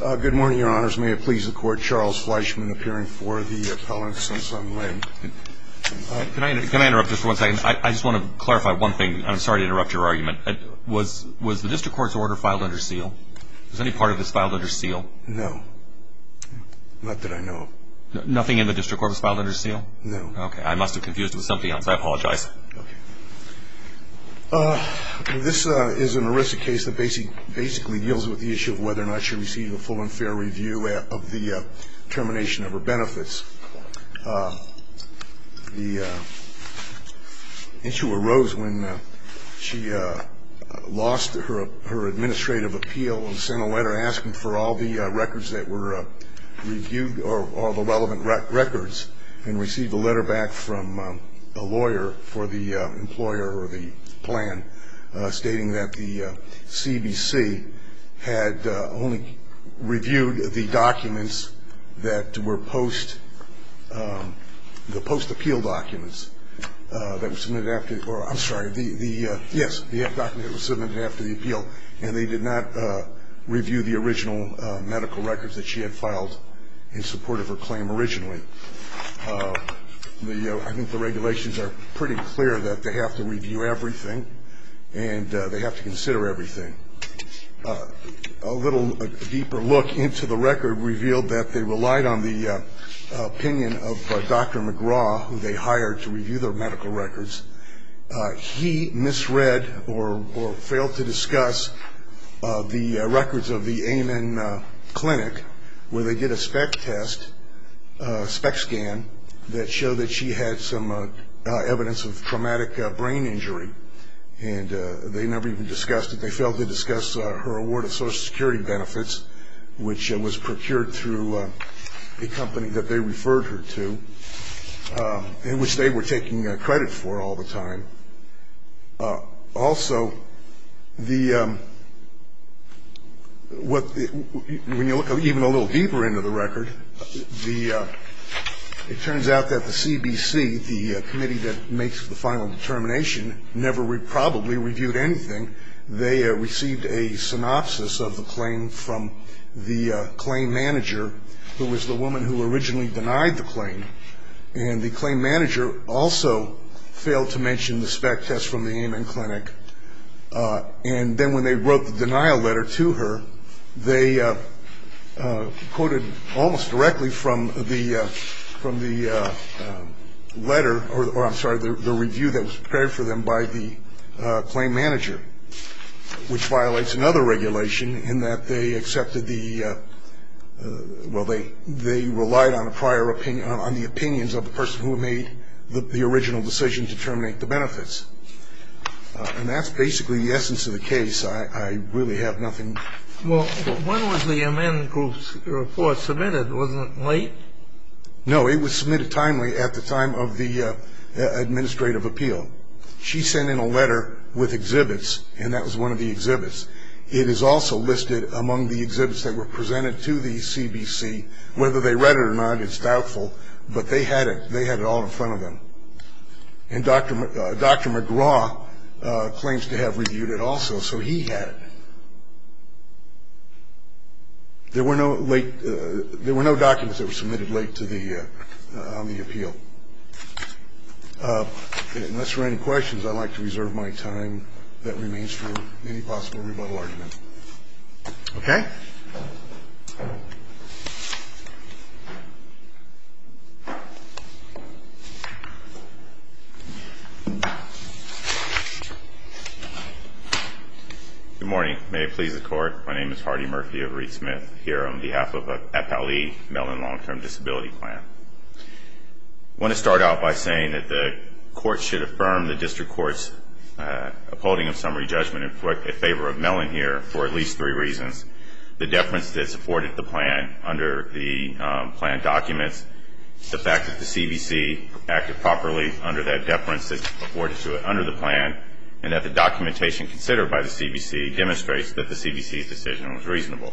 Good morning, your honors. May it please the court, Charles Fleischman appearing for the appellant, Sun Sun Lin. Can I interrupt just for one second? I just want to clarify one thing. I'm sorry to interrupt your argument. Was the district court's order filed under seal? Was any part of it filed under seal? No. Not that I know of. Nothing in the district court was filed under seal? No. Okay. I must have confused it with something else. I apologize. This is an aristic case that basically deals with the issue of whether or not she received a full and fair review of the termination of her benefits. The issue arose when she lost her administrative appeal and sent a letter asking for all the records that were reviewed or all the relevant records and received a letter back from a lawyer for the employer or the plan stating that the CBC had only reviewed the documents that were post-appeal documents that were submitted after the appeal and they did not review the original medical records that she had filed in support of her claim originally. I think the regulations are pretty clear that they have to review everything and they have to consider everything. A little deeper look into the record revealed that they relied on the opinion of Dr. McGraw who they hired to review their medical records. He misread or failed to discuss the records of the Amon Clinic where they did a spec test, a spec scan that showed that she had some evidence of traumatic brain injury and they never even discussed it. They failed to discuss her award of social security benefits which was procured through a company that they referred her to in which they were taking credit for all the time. Also, the when you look even a little deeper into the record, it turns out that the CBC, the committee that makes the final determination never probably reviewed anything. They received a synopsis of the claim from the claim manager who was the woman who originally denied the claim and the claim manager also failed to mention the spec test from the Amon Clinic and then when they wrote the denial letter to her they quoted almost directly from the letter, or I'm sorry, the review that was prepared for them by the claim manager which violates another regulation in that they accepted the well, they relied on a prior opinion on the opinions of the person who made the original decision to terminate the benefits. And that's basically the essence of the case. I really have nothing. Well, when was the amend group's report submitted? Wasn't it late? No, it was submitted timely at the time of the administrative appeal. She sent in a letter with exhibits and that was one of the exhibits. It is also listed among the exhibits that were presented to the CBC. Whether they read it or not it's doubtful, but they had it. They had it all in front of them. And Dr. McGraw claims to have reviewed it also so he had it. There were no documents that were submitted late to the on the appeal. Unless there are any questions I'd like to reserve my time. That remains for any possible rebuttal arguments. Okay. Good morning. May it please the Court. My name is Hardy Murphy of Reed Smith. Here on behalf of FLE, Mellon Long Term Disability Plan. I want to start out by saying that the Court should affirm the District Court's upholding of summary judgment in favor of Mellon here for at least three reasons. The deference that's afforded the plan under the plan documents. The fact that the CBC acted properly under that deference that's afforded to it under the plan and that the documentation considered by the CBC demonstrates that the CBC's decision was reasonable.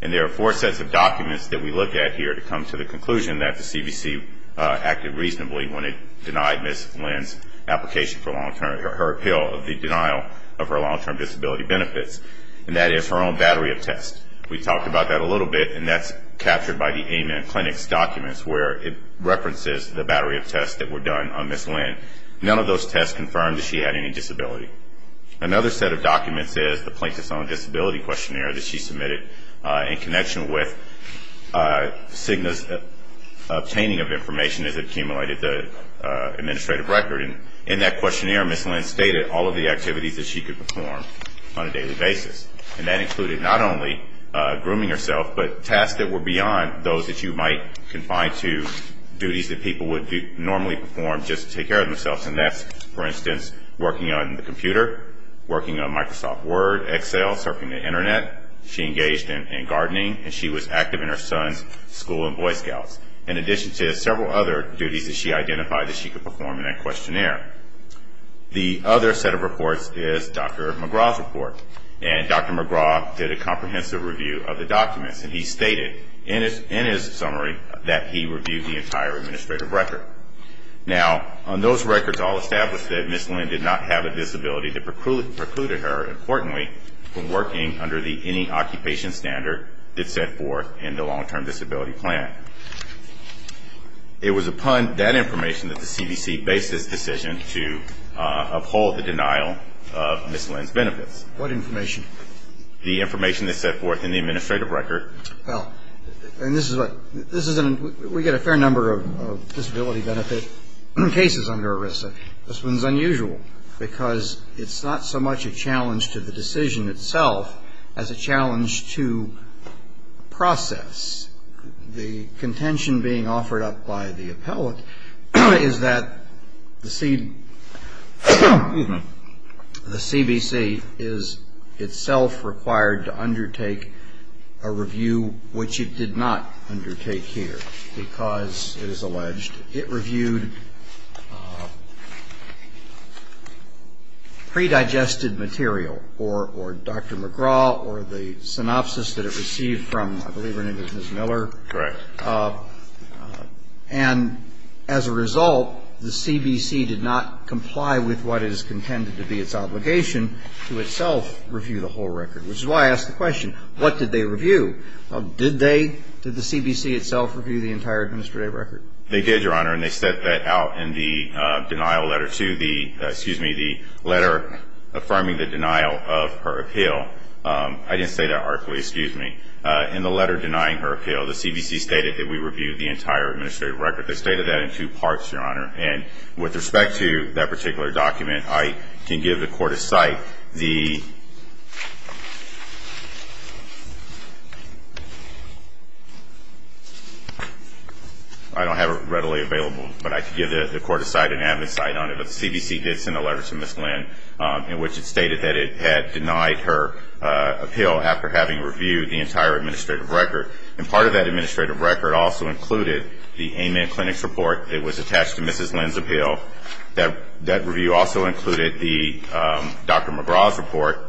And there are four sets of documents that we looked at here to come to the conclusion that the CBC acted reasonably when it denied Ms. Lynn's application for her appeal of the denial of her long-term disability benefits. And that is her own battery of tests. We talked about that a little bit and that's captured by the AMIN Clinics documents where it references the battery of tests that were done on Ms. Lynn. None of those tests confirmed that she had any disability. Another set of documents is the Plaintiff's Own Disability questionnaire that she submitted in connection with Cigna's obtaining of information as it accumulated the administrative record. In that questionnaire, Ms. Lynn stated all of the activities that she could perform on a daily basis. And that included not only grooming herself, but tasks that were beyond those that you might confine to duties that people would normally perform just to take care of themselves. And that's, for instance, working on the computer, working on Microsoft Word, Excel, surfing the Internet. She engaged in gardening and she was active in her son's school in Boy Scouts. In addition to several other duties that she identified that she could perform in that questionnaire. The other set of reports is Dr. McGraw's report. And Dr. McGraw did a comprehensive review of the documents and he stated in his summary that he reviewed the entire administrative record. Now, on those records all established that Ms. Lynn did not have a disability that precluded her, importantly, from working under any occupation standard that set forth in the Long-Term Disability Plan. It was upon that information that the CDC based its decision to uphold the denial of Ms. Lynn's benefits. What information? The information that set forth in the administrative record. Well, and this is what, this is an, we get a fair number of disability benefit cases under ERISA. This one's unusual because it's not so much a challenge to the decision itself as a challenge to process. The contention being offered up by the appellate is that the CDC is itself required to review which it did not undertake here because it is alleged it reviewed predigested material or Dr. McGraw or the synopsis that it received from, I believe her name is Ms. Miller. Correct. And as a result, the CBC did not comply with what is contended to be its obligation to itself review the whole record, which is why I ask the question, what did they review? Did they, did the CBC itself review the entire administrative record? They did, Your Honor, and they set that out in the denial letter to the, excuse me, the letter affirming the denial of her appeal. I didn't say that artfully, excuse me. In the letter denying her appeal, the CBC stated that we reviewed the entire administrative record. They stated that in two parts, Your Honor, and with respect to that particular document, I can give the Court of Cite the letter to Ms. Lynn. I don't have it readily available, but I can give the Court of Cite and Avid Cite on it, but the CBC did send a letter to Ms. Lynn in which it stated that it had denied her appeal after having reviewed the entire administrative record. And part of that administrative record also included the AIMAN Clinics report that was attached to Ms. Lynn's appeal. That review also included the AIMAN Clinics report.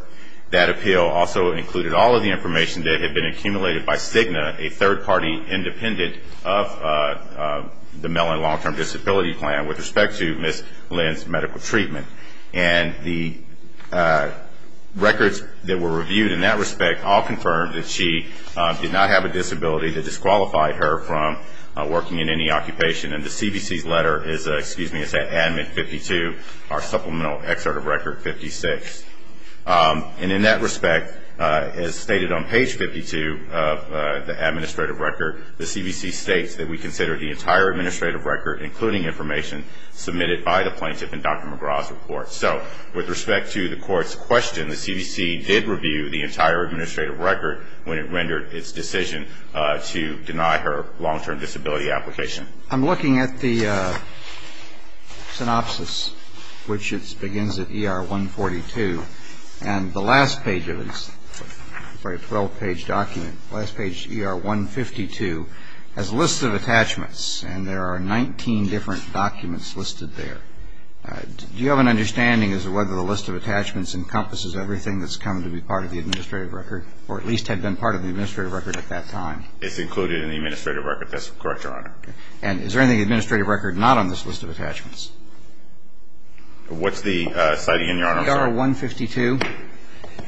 That appeal also included all of the information that had been accumulated by Cigna, a third-party independent of the Mellon Long-Term Disability Plan with respect to Ms. Lynn's medical treatment. And the records that were reviewed in that respect all confirmed that she did not have a disability that disqualified her from working in any occupation. And the CBC's letter is, excuse me, it's at Admin 52, our supplemental excerpt of record 56. And in that respect, as stated on page 52 of the administrative record, the CBC states that we consider the entire administrative record, including information submitted by the plaintiff in Dr. McGraw's report. So with respect to the Court's question, the CBC did review the entire administrative record when it rendered its decision to deny her long-term disability application. I'm looking at the last page of it. Sorry, a 12-page document. The last page, ER 152, has a list of attachments, and there are 19 different documents listed there. Do you have an understanding as to whether the list of attachments encompasses everything that's come to be part of the administrative record, or at least had been part of the administrative record at that time? It's included in the administrative record. That's correct, Your Honor. And is there anything in the administrative record not on this list of attachments? What's the citing in your honor? ER 152. Let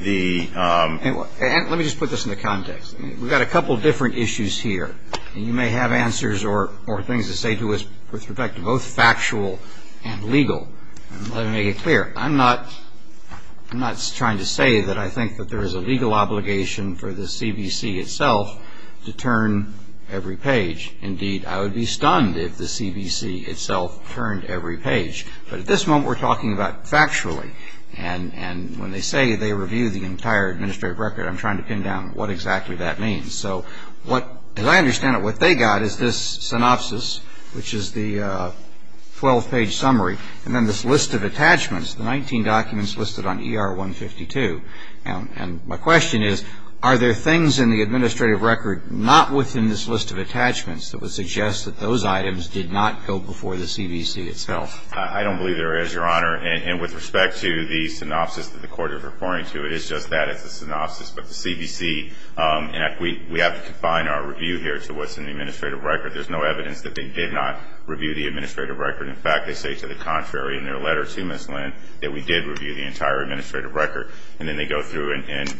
me just put this into context. We've got a couple different issues here, and you may have answers or things to say to us with respect to both factual and legal. Let me make it clear. I'm not trying to say that I think that there is a legal obligation for the CBC itself to turn every page. Indeed, I would be stunned if the CBC itself turned every page. But at this moment, we're talking about factually. And when they say they review the entire administrative record, I'm trying to pin down what exactly that means. So what, as I understand it, what they got is this synopsis, which is the 12-page summary, and then this list of attachments, the 19 documents listed on ER 152. And my question is, are there things in the administrative record not within this list of attachments that would suggest that those items did not go before the CBC itself? I don't believe there is, Your Honor. And with respect to the synopsis that the Court is referring to, it is just that. It's a synopsis. But the CBC, and we have to confine our review here to what's in the administrative record. There's no evidence that they did not review the administrative record. In fact, they say to the contrary in their letter to Ms. Lynn that we did review the entire administrative record. And then they go through and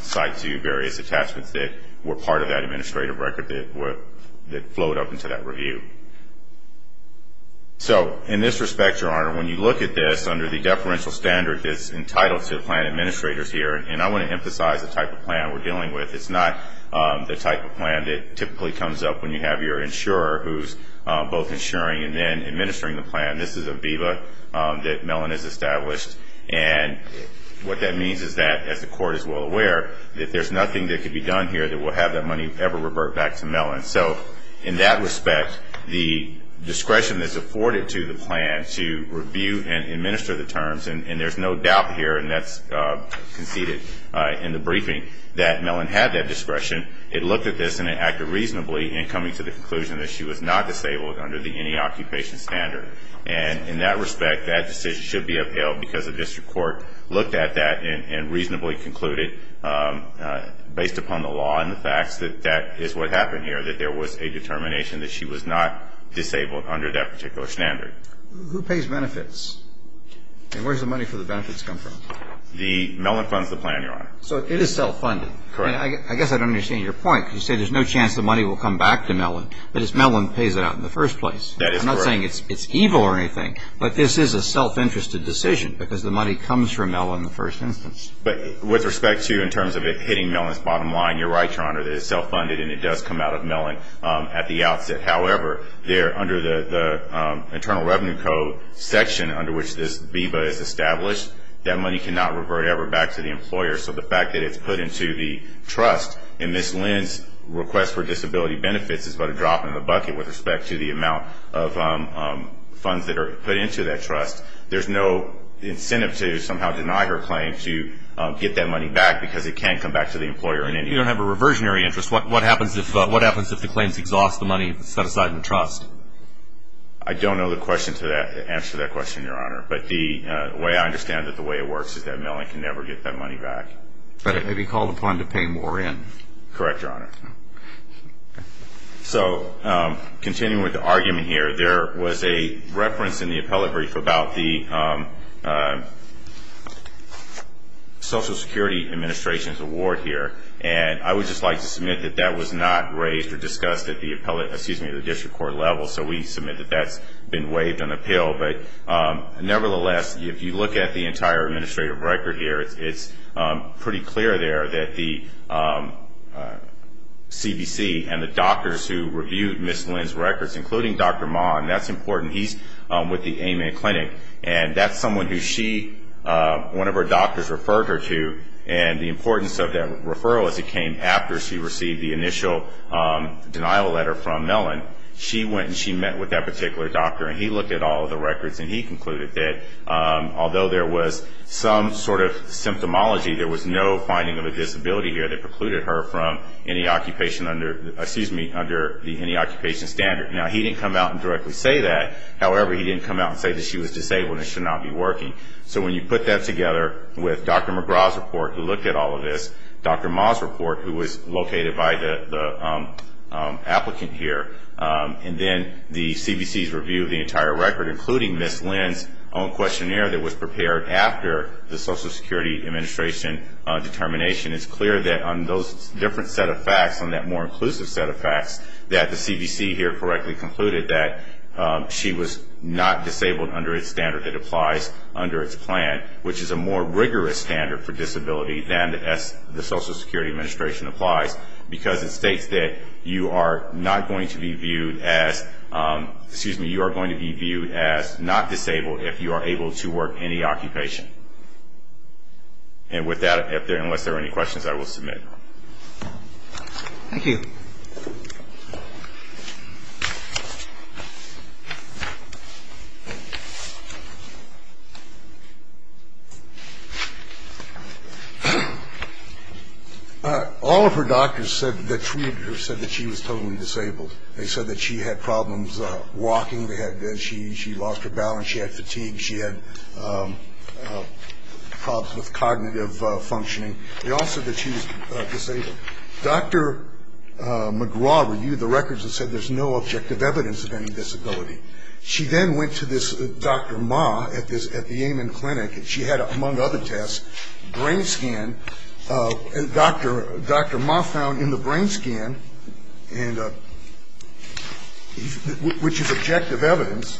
cite to you various attachments that were part of that administrative record that flowed up into that review. So in this respect, Your Honor, when you look at this under the deferential standard that's entitled to plan administrators here, and I want to emphasize the type of plan we're dealing with, it's not the type of plan that typically comes up when you have your insurer who's both insuring and then administering the plan. This is a VIVA that Mellon has established. And what that means is that as the Court is well aware, that there's nothing that can be done here that will have that money ever revert back to Mellon. So in that respect, the discretion that's afforded to the plan to review and administer the terms, and there's no doubt here, and that's conceded in the briefing, that Mellon had that discretion. It looked at this and it acted reasonably in coming to the conclusion that she was not disabled under the any occupation standard. And in that respect, that decision should be upheld because the District Court looked at that and reasonably concluded based upon the law and the facts that that is what happened here, that there was a determination that she was not disabled under that particular standard. Who pays benefits? And where does the money for the benefits come from? Mellon funds the plan, Your Honor. So it is self-funded? Correct. I guess I don't understand your point. You say there's no chance the money will come back to Mellon, but it's Mellon that pays it out in the first place. That is correct. I'm not saying it's evil or anything, but this is a self-interested decision because the money comes from Mellon in the first instance. But with respect to in terms of it hitting Mellon's bottom line, you're right, Your Honor, that it's self-funded and it does come out of Mellon at the outset. However, under the Internal Revenue Code section under which this VBA is established, that money cannot revert ever back to the employer. So the fact that it's put into the trust and this lends request for disability benefits is but a drop in the bucket with respect to the amount of funds that are put into that trust. There's no incentive to somehow deny her claim to get that money back because it can't come back to the employer in any way. You don't have a reversionary interest. What happens if the claims exhaust the money set aside in the trust? I don't know the answer to that question, Your Honor. But the way I understand it, the way it works is that Mellon can never get that money back. But it may be called upon to pay more in. Correct, Your Honor. So continuing with the argument here, there was a reference in the appellate brief about the Social Security Administration's award here. And I would just like to submit that that was not raised or discussed at the District Court level. So we submit that that's been waived on appeal. But nevertheless, if you look at the entire administrative record here, it's pretty clear there that the CBC and the doctors who reviewed Ms. Lynn's records, including Dr. Mahn, that's her clinic. And that's someone who she, one of her doctors referred her to. And the importance of that referral is it came after she received the initial denial letter from Mellon. She went and she met with that particular doctor and he looked at all of the records and he concluded that although there was some sort of symptomology, there was no finding of a disability here that precluded her from any occupation under the any occupation standard. Now, he didn't come out and directly say that. However, he didn't come out and say that she was disabled and should not be working. So when you put that together with Dr. McGraw's report, who looked at all of this, Dr. Mahn's report, who was located by the applicant here, and then the CBC's review of the entire record, including Ms. Lynn's own questionnaire that was prepared after the Social Security Administration determination, it's clear that on those different set of facts, on that more inclusive set of facts, that the CBC here correctly concluded that she was not disabled under its standard that applies under its plan, which is a more rigorous standard for disability than the Social Security Administration applies because it states that you are not going to be viewed as not disabled if you are able to work any occupation. And with that, unless there are any questions, I will submit. Thank you. All of her doctors said that she was totally disabled. They said that she had problems walking. She lost her balance. She had fatigue. She had problems with cognitive functioning. They all said that she was disabled. Dr. McGraw reviewed the records and said there's no objective evidence of any disability. She then went to this Dr. Mah at the Amon Clinic, and she had, among other tests, brain scan and Dr. Mah found in the brain scan which is objective evidence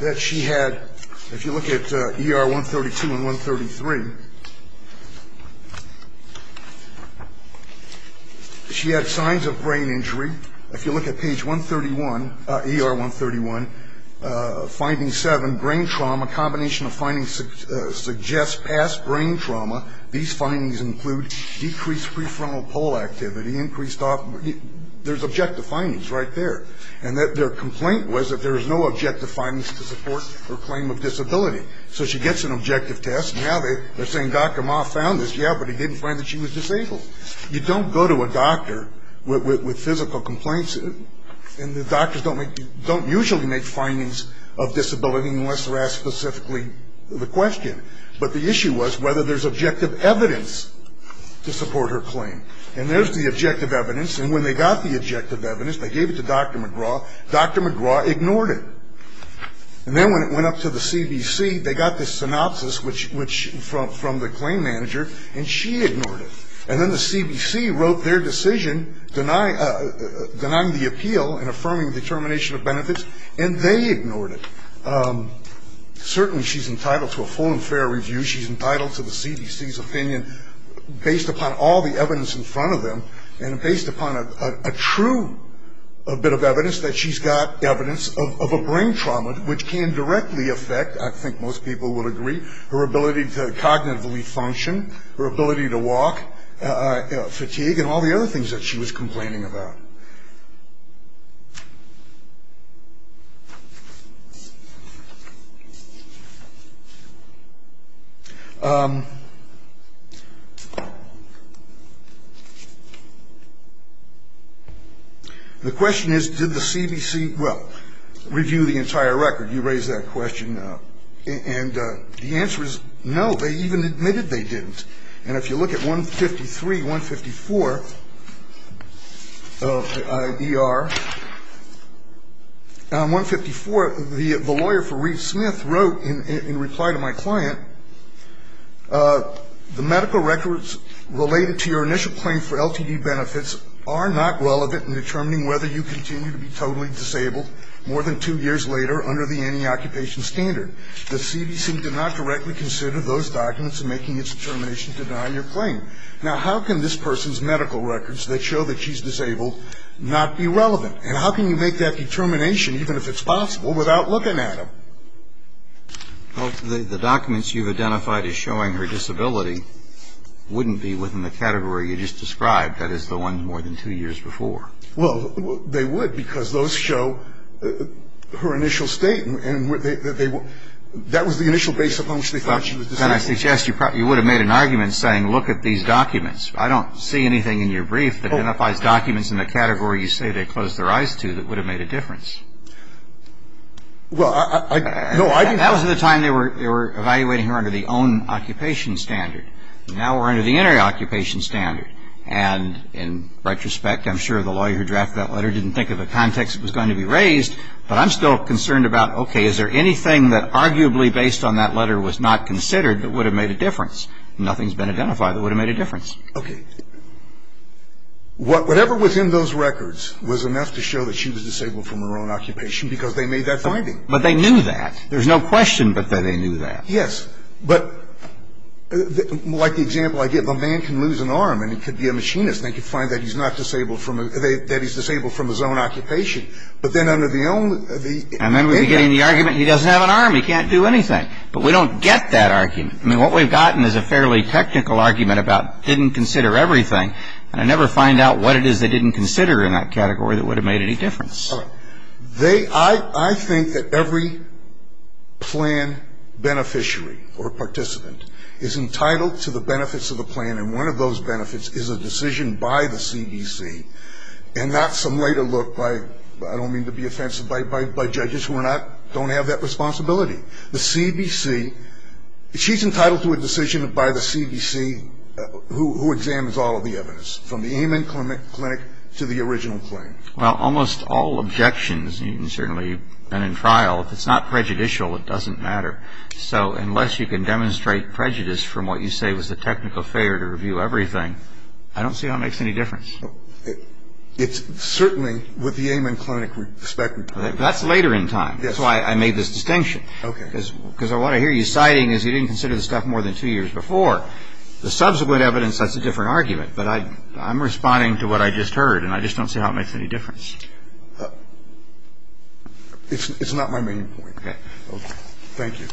that she had, if you look at ER 132 and 133, she had signs of brain injury. If you look at page 131, ER 131, finding 7, brain trauma, combination of findings suggests past brain trauma. These findings include decreased prefrontal pole activity, increased post-op, there's objective findings right there. And their complaint was that there was no objective findings to support her claim of disability. So she gets an objective test, and now they're saying Dr. Mah found this, yeah, but he didn't find that she was disabled. You don't go to a doctor with physical complaints, and the doctors don't usually make findings of disability unless they're asked specifically the question. But the issue was whether there's objective evidence to support her claim. And there's the objective evidence. And when they got the objective evidence, they gave it to Dr. McGraw. Dr. McGraw ignored it. And then when it went up to the CBC, they got this synopsis which from the claim manager, and she ignored it. And then the CBC wrote their decision denying the appeal and affirming the termination of benefits, and they ignored it. Certainly she's entitled to a full and fair review. She's entitled to the CBC's opinion based upon all the evidence in front of them and based upon a true bit of evidence that she's got evidence of a brain trauma which can directly affect, I think most people would agree, her ability to cognitively function, her ability to walk, fatigue, and all the other things that she was complaining about. The question is did the CBC, well, review the entire record. You raised that question. And the answer is no. They even admitted they didn't. And if you look at 153, 154, And if you look at 153, 154, and 154, the lawyer for Reeve Smith wrote in reply to my client, the medical records related to your initial claim for LTD benefits are not relevant in determining whether you continue to be totally disabled more than two years later under the anti-occupation standard. The CBC did not directly consider those documents in making its determination to deny your claim. Now, how can this person's medical records that show that she's disabled not be relevant? And how can you make that determination, even if it's possible, without looking at them? Well, the documents you've identified as showing her disability wouldn't be within the category you just described, that is, the ones more than two years before. Well, they would because those show her initial state and that was the initial base upon which they thought she was disabled. Then I suggest you would have made an argument saying look at these documents. There's nothing in the brief that identifies documents in the category you say they closed their eyes to that would have made a difference. Well, I don't know. That was at the time they were evaluating her under the own occupation standard. Now we're under the inter-occupation standard. And in retrospect, I'm sure the lawyer who drafted that letter didn't think of the context it was going to be raised, but I'm still concerned about, okay, is there anything that arguably based on that whatever was in those records was enough to show that she was disabled from her own occupation because they made that finding. But they knew that. There's no question but that they knew that. Yes. But like the example I gave, a man can lose an arm and he could be a machinist and they could find that he's not disabled from that he's disabled from his own occupation. But then under the own And then we get in the argument he doesn't have an arm, he can't do anything. But we don't get that argument. I mean, what we've gotten is a fairly technical argument about didn't consider everything. And I never find out what it is they didn't consider in that category that would have made any difference. I think that every plan beneficiary or participant is entitled to the benefits of the plan. And one of those benefits is a decision by the CBC and not some later look by I don't mean to be offensive by judges who are not don't have that responsibility. The CBC, she's entitled to a decision by the CBC who examines all of the evidence, from the Amen Clinic to the original claim. Well, almost all objections, certainly, and in trial, if it's not prejudicial, it doesn't matter. So unless you can demonstrate prejudice from what you say was the technical failure to review everything, I don't see how it makes any difference. It's certainly with the Amen Clinic respect. That's later in time. That's why I made this distinction. Okay. Because what I hear you citing is you didn't consider the stuff more than two years before. The subsequent evidence sets a different argument. But I'm responding to what I just heard, and I just don't see how it makes any difference. It's not my main point. Okay. Thank you.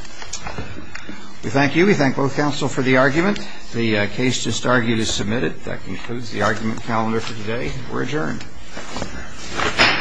We thank you. We thank both counsel for the argument. The case just argued is submitted. That concludes the argument calendar for today. We're adjourned. All rise. Thank you.